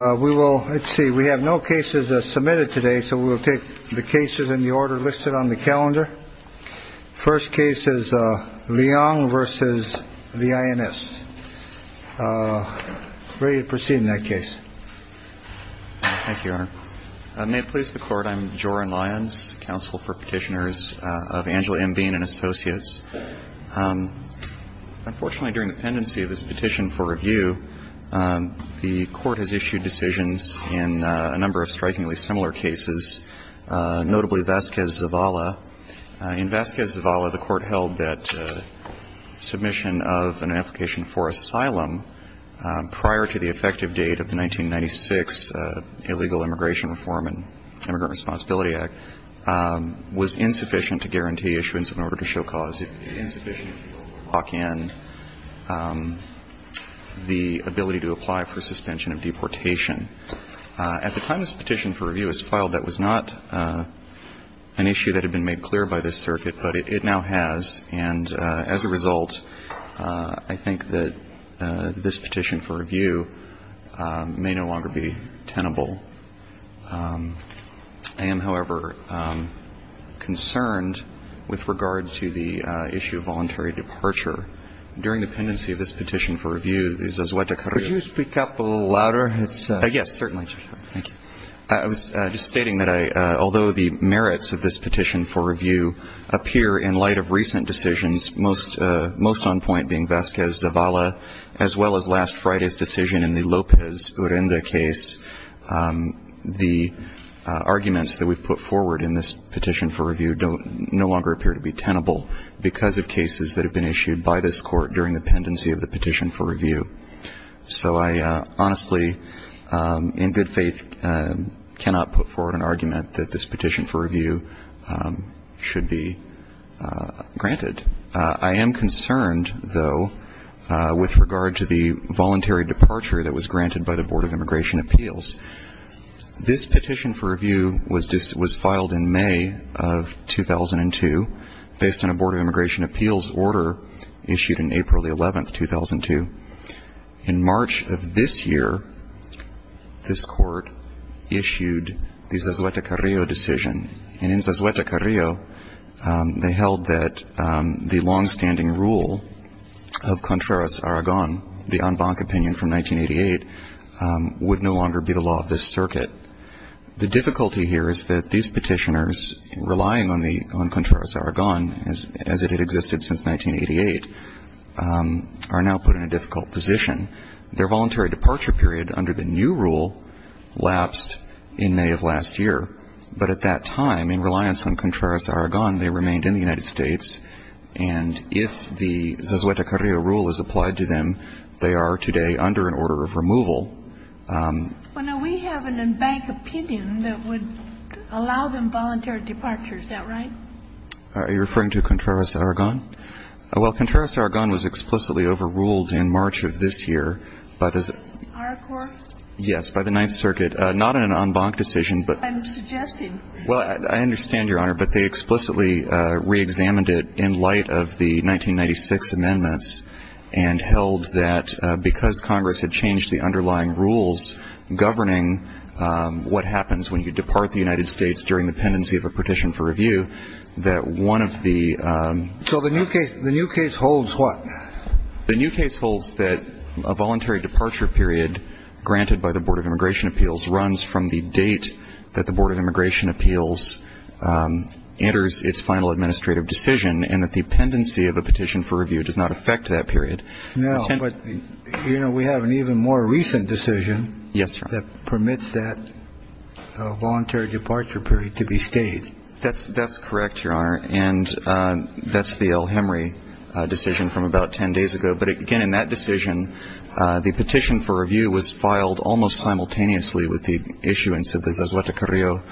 We will see we have no cases submitted today, so we will take the cases in the order listed on the calendar. First case is Leong versus the INS. Ready to proceed in that case. Thank you. May it please the court. I'm Joran Lyons, counsel for petitioners of Angela and being an associates. Unfortunately, during the pendency of this petition for review, the court has issued decisions in a number of strikingly similar cases, notably Vasquez-Zavala. In Vasquez-Zavala, the court held that submission of an application for asylum prior to the effective date of the 1996 Illegal Immigration Reform and Immigrant Act was insufficient to lock in the ability to apply for suspension of deportation. At the time this petition for review was filed, that was not an issue that had been made clear by this circuit, but it now has, and as a result, I think that this petition for review may no longer be tenable. I am, however, concerned with regard to the issue of voluntary departure. During the pendency of this petition for review, as Azueta Carrillo – Could you speak up a little louder? Yes, certainly. Thank you. I was just stating that although the merits of this petition for review appear in light of recent decisions, most on point being Vasquez-Zavala, as well as last Friday's decision in the Lopez-Urrenda case, the arguments that we've put forward in this petition for review no longer appear to be tenable because of cases that have been issued by this court during the pendency of the petition for review. So I honestly, in good faith, cannot put forward an argument that this petition for review should be granted. I am concerned, though, with regard to the voluntary departure that was granted by the Board of Immigration Appeals. This petition for review was filed in May of 2002 based on a Board of Immigration Appeals order issued in April 11, 2002. In March of this year, this court issued the Azueta Carrillo decision. And in Azueta Carrillo, they held that the longstanding rule of Contreras-Aragon, the en banc opinion from 1988, would no longer be the law of this circuit. The difficulty here is that these petitioners, relying on Contreras-Aragon as it had existed since 1988, are now put in a difficult position. Their voluntary departure period under the new rule lapsed in May of last year. But at that time, in reliance on Contreras-Aragon, they remained in the United States. And if the Azueta Carrillo rule is applied to them, they are today under an order of removal. Well, now, we have an en banc opinion that would allow them voluntary departure. Is that right? Are you referring to Contreras-Aragon? Well, Contreras-Aragon was explicitly overruled in March of this year by the ______. Our court? Yes, by the Ninth Circuit. Not an en banc decision, but ______. I'm suggesting. Well, I understand, Your Honor, but they explicitly reexamined it in light of the 1996 amendments and held that because Congress had changed the underlying rules governing what happens when you depart the United States during the pendency of a petition for review, that one of the ______. So the new case holds what? The new case holds that a voluntary departure period granted by the Board of Immigration Appeals runs from the date that the Board of Immigration Appeals enters its final administrative decision and that the pendency of a petition for review does not affect that period. No, but, you know, we have an even more recent decision that permits that voluntary departure period to be stayed. That's correct, Your Honor, and that's the El-Hemry decision from about 10 days ago. But, again, in that decision, the petition for review was filed almost simultaneously with the issuance of the Zazuata-Carrillo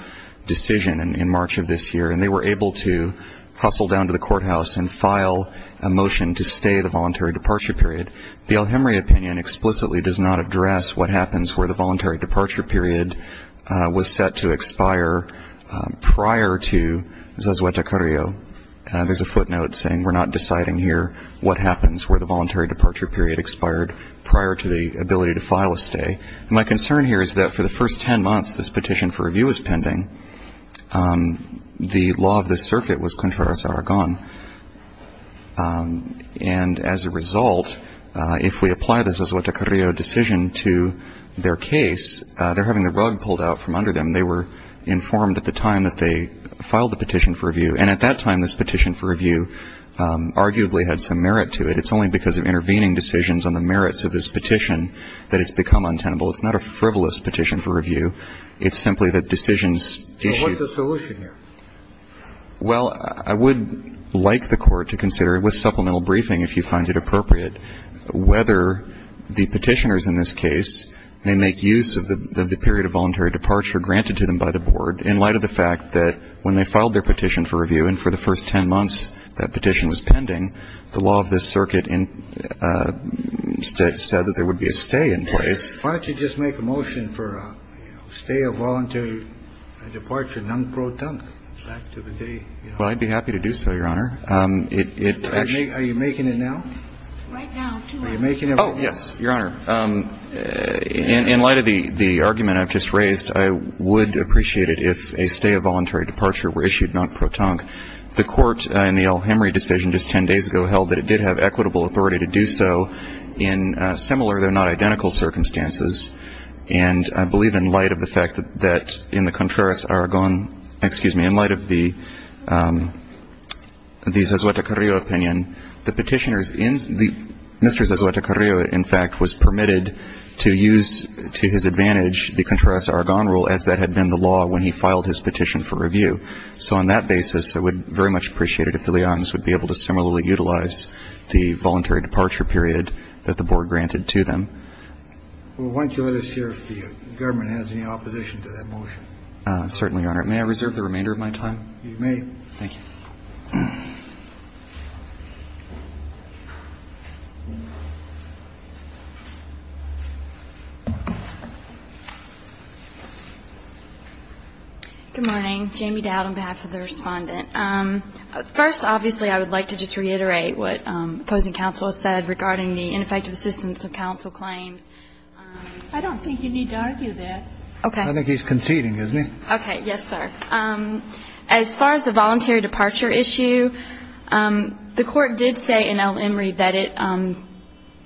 decision in March of this year, and they were able to hustle down to the courthouse and file a motion to stay the voluntary departure period. The El-Hemry opinion explicitly does not address what happens where the voluntary departure period was set to expire prior to Zazuata-Carrillo. There's a footnote saying we're not deciding here what happens where the voluntary departure period expired prior to the ability to file a stay. And my concern here is that for the first 10 months this petition for review was pending, the law of this circuit was contrarios aragon. And as a result, if we apply the Zazuata-Carrillo decision to their case, they're having the rug pulled out from under them. They were informed at the time that they filed the petition for review. And at that time, this petition for review arguably had some merit to it. It's only because of intervening decisions on the merits of this petition that it's become untenable. It's not a frivolous petition for review. It's simply that decisions issued. So what's the solution here? Well, I would like the Court to consider with supplemental briefing, if you find it appropriate, whether the petitioners in this case may make use of the period of voluntary departure granted to them by the Board in light of the fact that when they filed their petition for review and for the first 10 months that petition was pending, the law of this circuit said that there would be a stay in place. Why don't you just make a motion for a stay of voluntary departure non-protonque back to the day? Well, I'd be happy to do so, Your Honor. Are you making it now? Right now. Are you making it? Oh, yes, Your Honor. In light of the argument I've just raised, I would appreciate it if a stay of voluntary departure were issued non-protonque. The Court in the El Hemry decision just 10 days ago held that it did have equitable authority to do so in similar, though not identical, circumstances. And I believe in light of the fact that in the Contreras-Aragon, excuse me, in light of the Zazueta-Carrillo opinion, the petitioners, Mr. Zazueta-Carrillo, in fact, was permitted to use to his advantage the Contreras-Aragon rule as that had been the law when he filed his petition for review. So on that basis, I would very much appreciate it if the Leones would be able to similarly utilize the voluntary departure period that the Board granted to them. Well, why don't you let us hear if the government has any opposition to that motion? Certainly, Your Honor. May I reserve the remainder of my time? You may. Thank you. Good morning. Jamie Dowd on behalf of the Respondent. First, obviously, I would like to just reiterate what opposing counsel has said regarding the ineffective assistance of counsel claims. I don't think you need to argue that. Okay. I think he's conceding, isn't he? Okay. Yes, sir. As far as the voluntary departure issue, the Court did say in El Hemry that it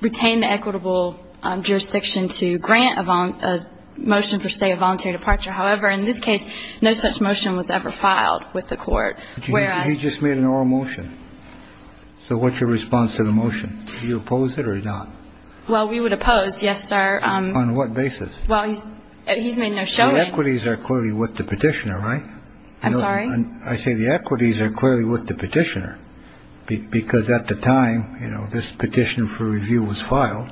retained the equitable jurisdiction to grant a motion for, say, a voluntary departure. However, in this case, no such motion was ever filed with the Court. He just made an oral motion. So what's your response to the motion? Do you oppose it or not? Well, we would oppose, yes, sir. On what basis? Well, he's made no showing. The equities are clearly with the petitioner, right? I'm sorry? I say the equities are clearly with the petitioner because at the time, you know, this petition for review was filed,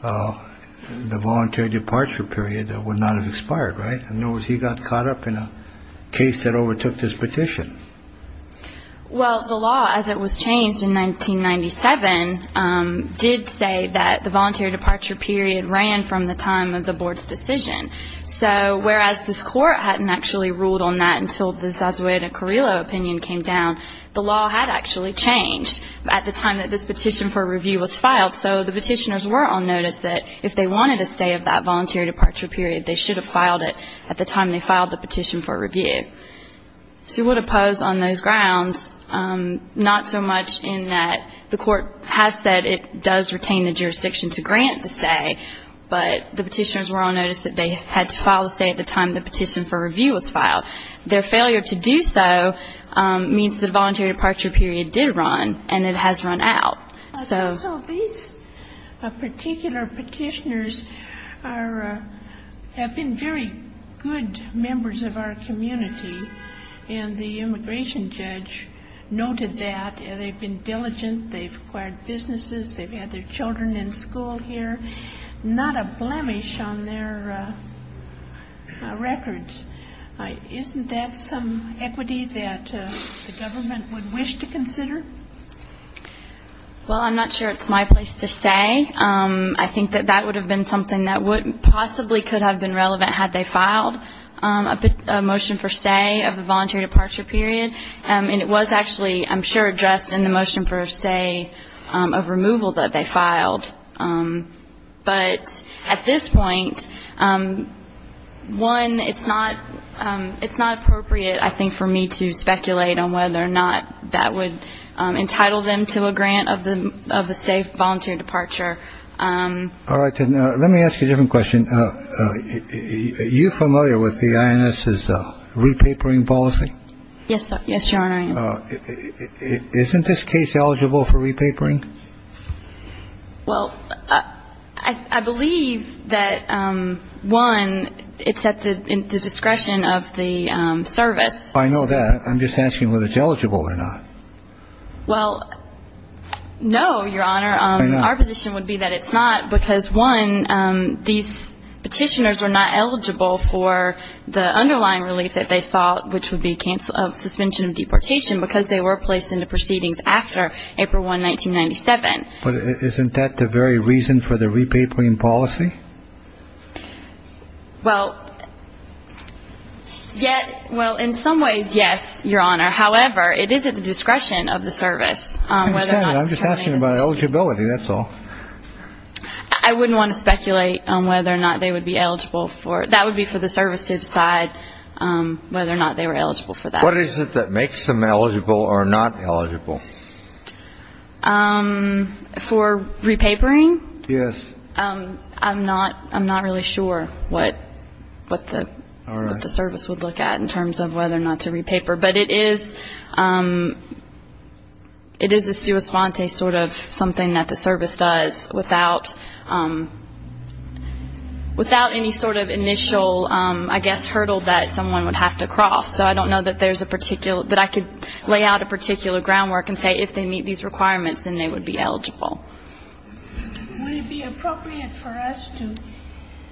the voluntary departure period would not have expired, right? In other words, he got caught up in a case that overtook this petition. Well, the law, as it was changed in 1997, did say that the voluntary departure period ran from the time of the Board's decision. So whereas this Court hadn't actually ruled on that until the Zazueda-Carrillo opinion came down, the law had actually changed at the time that this petition for review was filed. So the petitioners were on notice that if they wanted a stay of that voluntary departure period, they should have filed it at the time they filed the petition for review. So we would oppose on those grounds, not so much in that the Court has said it does retain the jurisdiction to grant the stay, but the petitioners were on notice that they had to file a stay at the time the petition for review was filed. Their failure to do so means that the voluntary departure period did run and it has run out. So these particular petitioners have been very good members of our community, and the immigration judge noted that. They've been diligent. They've acquired businesses. They've had their children in school here. Not a blemish on their records. Isn't that some equity that the government would wish to consider? Well, I'm not sure it's my place to say. I think that that would have been something that possibly could have been relevant had they filed a motion for stay of the voluntary departure period. And it was actually, I'm sure, addressed in the motion for stay of removal that they filed. But at this point, one, it's not appropriate, I think, for me to speculate on whether or not that would entitle them to a grant of a stay of voluntary departure. All right. Let me ask you a different question. Are you familiar with the INS's repapering policy? Yes, Your Honor, I am. Isn't this case eligible for repapering? Well, I believe that, one, it's at the discretion of the service. I know that. I'm just asking whether it's eligible or not. Well, no, Your Honor. Our position would be that it's not because, one, these petitioners were not eligible for the underlying relief that they sought, which would be suspension of deportation, because they were placed into proceedings after April 1, 1997. But isn't that the very reason for the repapering policy? Well, in some ways, yes, Your Honor. However, it is at the discretion of the service. I'm just asking about eligibility, that's all. I wouldn't want to speculate on whether or not they would be eligible for it. That would be for the service to decide whether or not they were eligible for that. What is it that makes them eligible or not eligible? For repapering? Yes. I'm not really sure what the service would look at in terms of whether or not to repaper. But it is a sua sponte sort of something that the service does without any sort of initial, I guess, hurdle that someone would have to cross. So I don't know that there's a particular – that I could lay out a particular groundwork and say if they meet these requirements, then they would be eligible. Would it be appropriate for us to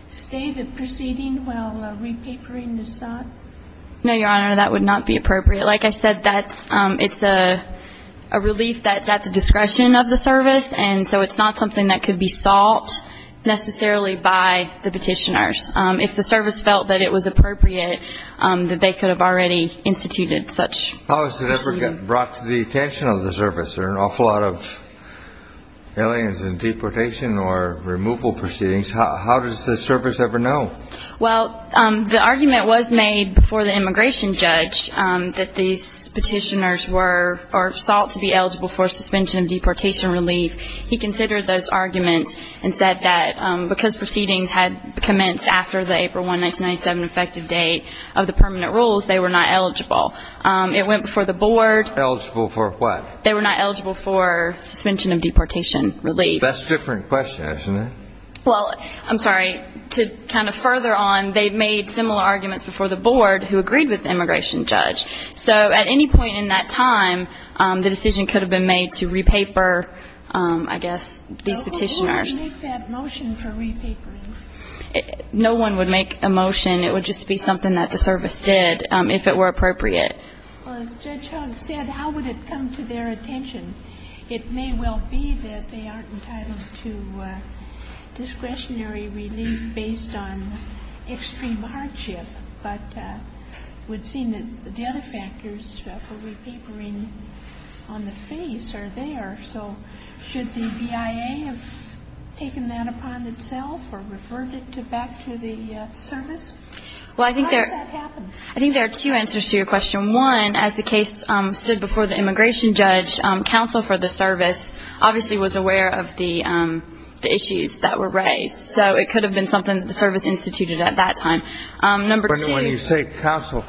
stay the proceeding while repapering is sought? No, Your Honor. That would not be appropriate. Like I said, that's – it's a relief that's at the discretion of the service, and so it's not something that could be sought necessarily by the Petitioners. If the service felt that it was appropriate, that they could have already instituted such proceedings. How is it ever brought to the attention of the service? There are an awful lot of aliens in deportation or removal proceedings. How does the service ever know? Well, the argument was made before the immigration judge that these petitioners were – or sought to be eligible for suspension of deportation relief. He considered those arguments and said that because proceedings had commenced after the April 1, 1997, effective date of the permanent rules, they were not eligible. It went before the board. Eligible for what? They were not eligible for suspension of deportation relief. That's a different question, isn't it? Well, I'm sorry, to kind of further on, they made similar arguments before the board who agreed with the immigration judge. So at any point in that time, the decision could have been made to repaper, I guess, these petitioners. No one would make that motion for repapering. No one would make a motion. It would just be something that the service did if it were appropriate. Well, as Judge Hunt said, how would it come to their attention? It may well be that they aren't entitled to discretionary relief based on extreme hardship, but it would seem that the other factors for repapering on the face are there. So should the BIA have taken that upon itself or referred it back to the service? How does that happen? I think there are two answers to your question. One, as the case stood before the immigration judge, counsel for the service obviously was aware of the issues that were raised. So it could have been something that the service instituted at that time. Number two. But when you say counsel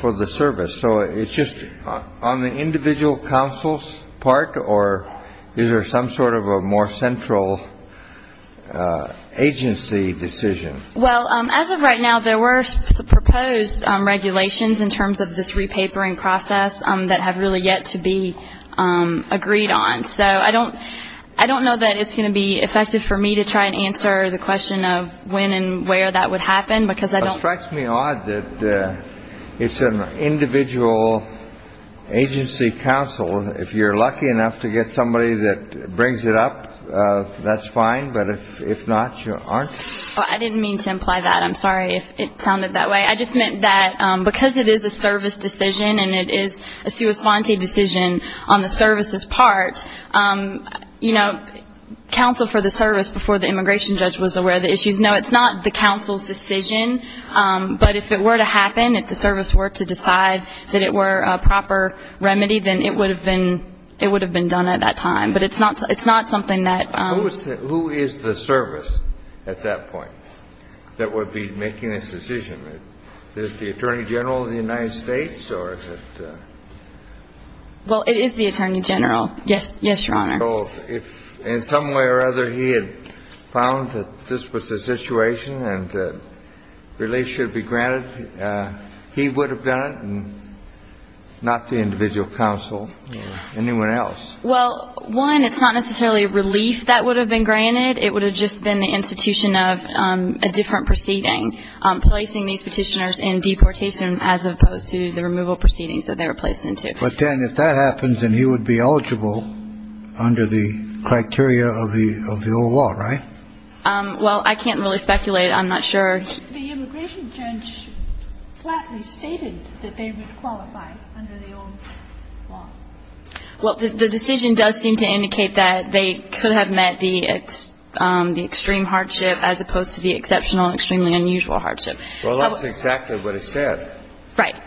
for the service, so it's just on the individual counsel's part, or is there some sort of a more central agency decision? Well, as of right now, there were proposed regulations in terms of this repapering process that have really yet to be agreed on. So I don't know that it's going to be effective for me to try and answer the question of when and where that would happen because I don't. It strikes me odd that it's an individual agency counsel. If you're lucky enough to get somebody that brings it up, that's fine. But if not, you aren't. I didn't mean to imply that. I'm sorry if it sounded that way. I just meant that because it is a service decision and it is a sui sponte decision on the service's part, you know, counsel for the service before the immigration judge was aware of the issues. No, it's not the counsel's decision. But if it were to happen, if the service were to decide that it were a proper remedy, then it would have been done at that time. But it's not something that. Who is the service at that point that would be making this decision? Is it the Attorney General of the United States or is it? Well, it is the Attorney General. Yes, Your Honor. So if in some way or other he had found that this was the situation and relief should be granted, he would have done it and not the individual counsel or anyone else? Well, one, it's not necessarily relief that would have been granted. It would have just been the institution of a different proceeding, placing these petitioners in deportation as opposed to the removal proceedings that they were placed into. But then if that happens, then he would be eligible under the criteria of the old law, right? Well, I can't really speculate. I'm not sure. The immigration judge flatly stated that they would qualify under the old law. Well, the decision does seem to indicate that they could have met the extreme hardship as opposed to the exceptional, extremely unusual hardship. Well, that's exactly what it said. Right.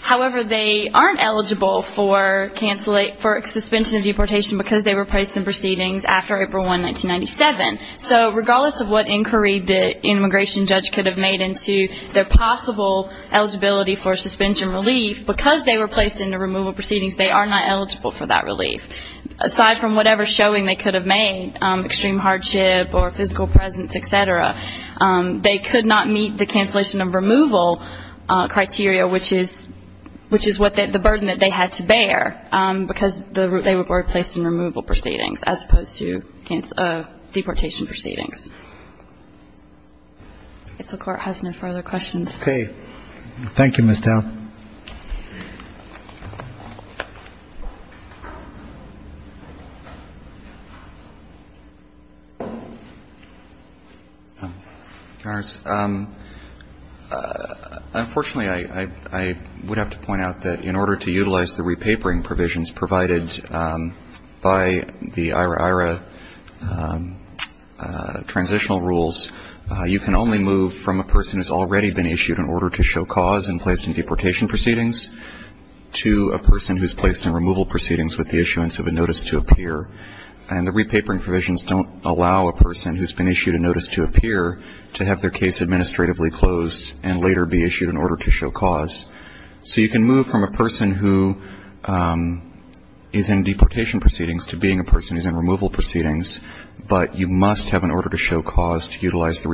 However, they aren't eligible for suspension of deportation because they were placed in proceedings after April 1, 1997. So regardless of what inquiry the immigration judge could have made into their possible eligibility for suspension relief, because they were placed into removal proceedings, they are not eligible for that relief. Aside from whatever showing they could have made, extreme hardship or physical presence, et cetera, they could not meet the cancellation of removal criteria, which is the burden that they had to bear because they were placed in removal proceedings as opposed to deportation proceedings. If the Court has no further questions. Okay. Thank you, Ms. Dow. Your Honors, unfortunately, I would have to point out that in order to utilize the repapering provisions provided by the IHRA transitional rules, you can only move from a person who's already been issued an order to show cause and placed in deportation proceedings to a person who's placed in removal proceedings with the issuance of a notice to appear. And the repapering provisions don't allow a person who's been issued a notice to appear to have their case administratively closed and later be issued in order to show cause. So you can move from a person who is in deportation proceedings to being a person who's in removal proceedings, but you must have an order to show cause to utilize the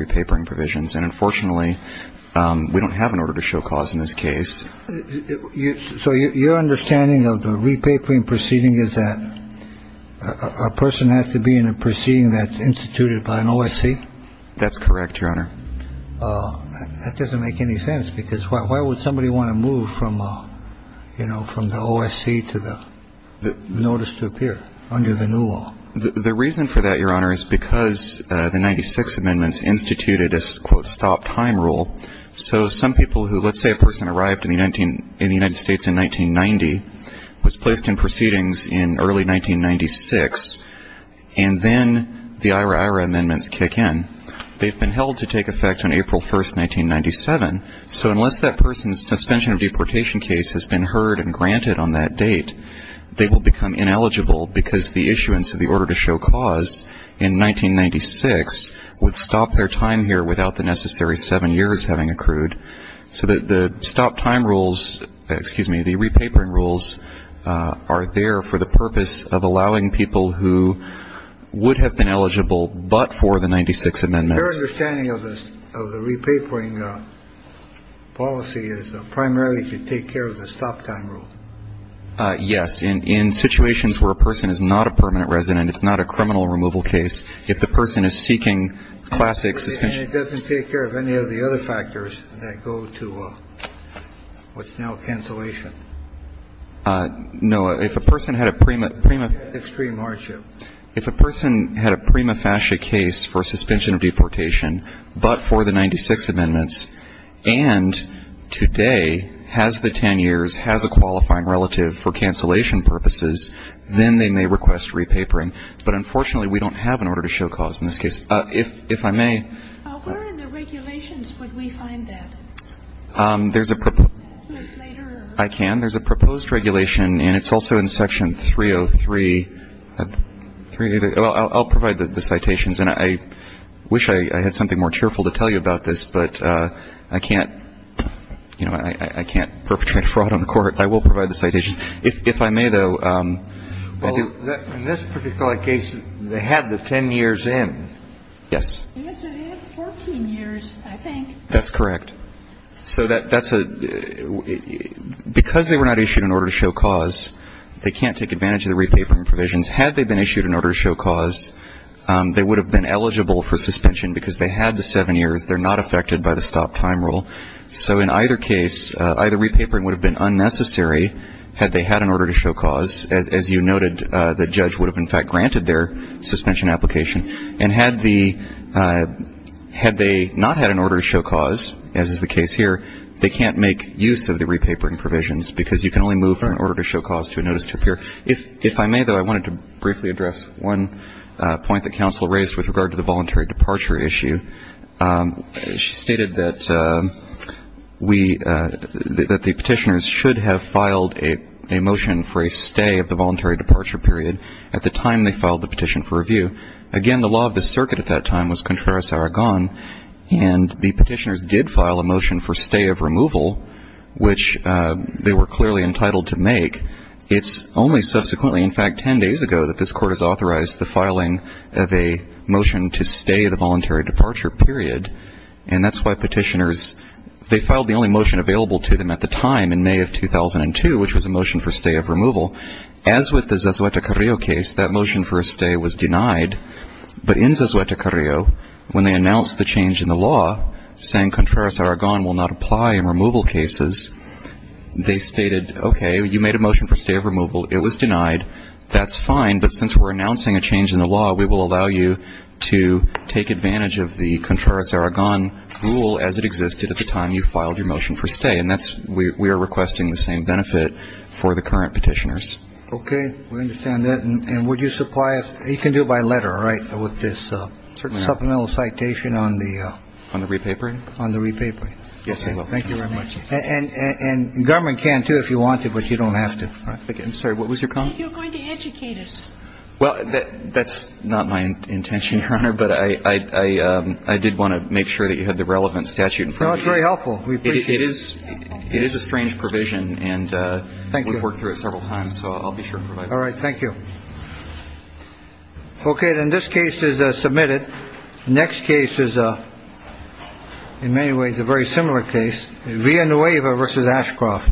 So your understanding of the repapering proceeding is that a person has to be in a proceeding that's instituted by an OSC? That's correct, Your Honor. That doesn't make any sense, because why would somebody want to move from, you know, from the OSC to the notice to appear under the new law? The reason for that, Your Honor, is because the 96 amendments instituted a, quote, So some people who, let's say a person arrived in the United States in 1990, was placed in proceedings in early 1996, and then the IRA IRA amendments kick in. They've been held to take effect on April 1, 1997. So unless that person's suspension of deportation case has been heard and granted on that date, they will become ineligible because the issuance of the order to show cause in 1996 would stop their time here without the necessary seven years having accrued. So the stop time rules, excuse me, the repapering rules are there for the purpose of allowing people who would have been eligible but for the 96 amendments. Your understanding of the repapering policy is primarily to take care of the stop time rule. Yes. In situations where a person is not a permanent resident, it's not a criminal removal case, if the person is seeking classic suspension. And it doesn't take care of any of the other factors that go to what's now cancellation. No. If a person had a prima, prima. Extreme hardship. If a person had a prima facie case for suspension of deportation but for the 96 amendments and today has the ten years, has a qualifying relative for cancellation purposes, then they may request repapering. But unfortunately, we don't have an order to show cause in this case. If I may. Where in the regulations would we find that? There's a proposed. I can. There's a proposed regulation, and it's also in Section 303. I'll provide the citations. And I wish I had something more cheerful to tell you about this, but I can't, you know, I can't perpetrate a fraud on the court. I will provide the citations. If I may, though. Well, in this particular case, they had the ten years in. Yes. They had 14 years, I think. That's correct. So that's a, because they were not issued an order to show cause, they can't take advantage of the repapering provisions. Had they been issued an order to show cause, they would have been eligible for suspension because they had the seven years. They're not affected by the stop time rule. So in either case, either repapering would have been unnecessary had they had an order to show cause. As you noted, the judge would have, in fact, granted their suspension application. And had they not had an order to show cause, as is the case here, they can't make use of the repapering provisions because you can only move from an order to show cause to a notice to appear. If I may, though, I wanted to briefly address one point that counsel raised with regard to the voluntary departure issue. She stated that we, that the petitioners should have filed a motion for a stay of the voluntary departure period at the time they filed the petition for review. Again, the law of the circuit at that time was Contreras-Aragon, and the petitioners did file a motion for stay of removal, which they were clearly entitled to make. It's only subsequently, in fact, ten days ago, that this court has authorized the filing of a motion to stay the voluntary departure period. And that's why petitioners, they filed the only motion available to them at the time in May of 2002, which was a motion for stay of removal. As with the Zazueta-Carrillo case, that motion for a stay was denied. But in Zazueta-Carrillo, when they announced the change in the law, saying Contreras-Aragon will not apply in removal cases, they stated, okay, you made a motion for stay of removal. It was denied. That's fine. But since we're announcing a change in the law, we will allow you to take advantage of the Contreras-Aragon rule as it existed at the time you filed your motion for stay. And that's we are requesting the same benefit for the current petitioners. Okay. We understand that. And would you supply us? You can do it by letter, right, with this supplemental citation on the – On the re-papering? On the re-papering. Yes, I will. Thank you very much. And government can, too, if you want to, but you don't have to. I'm sorry. What was your comment? You're going to educate us. Well, that's not my intention, Your Honor. But I did want to make sure that you had the relevant statute in front of you. No, it's very helpful. We appreciate it. It is a strange provision. Thank you. And we've worked through it several times, so I'll be sure to provide it. All right. Thank you. Okay. Then this case is submitted. The next case is, in many ways, a very similar case. Villanueva v. Ashcroft.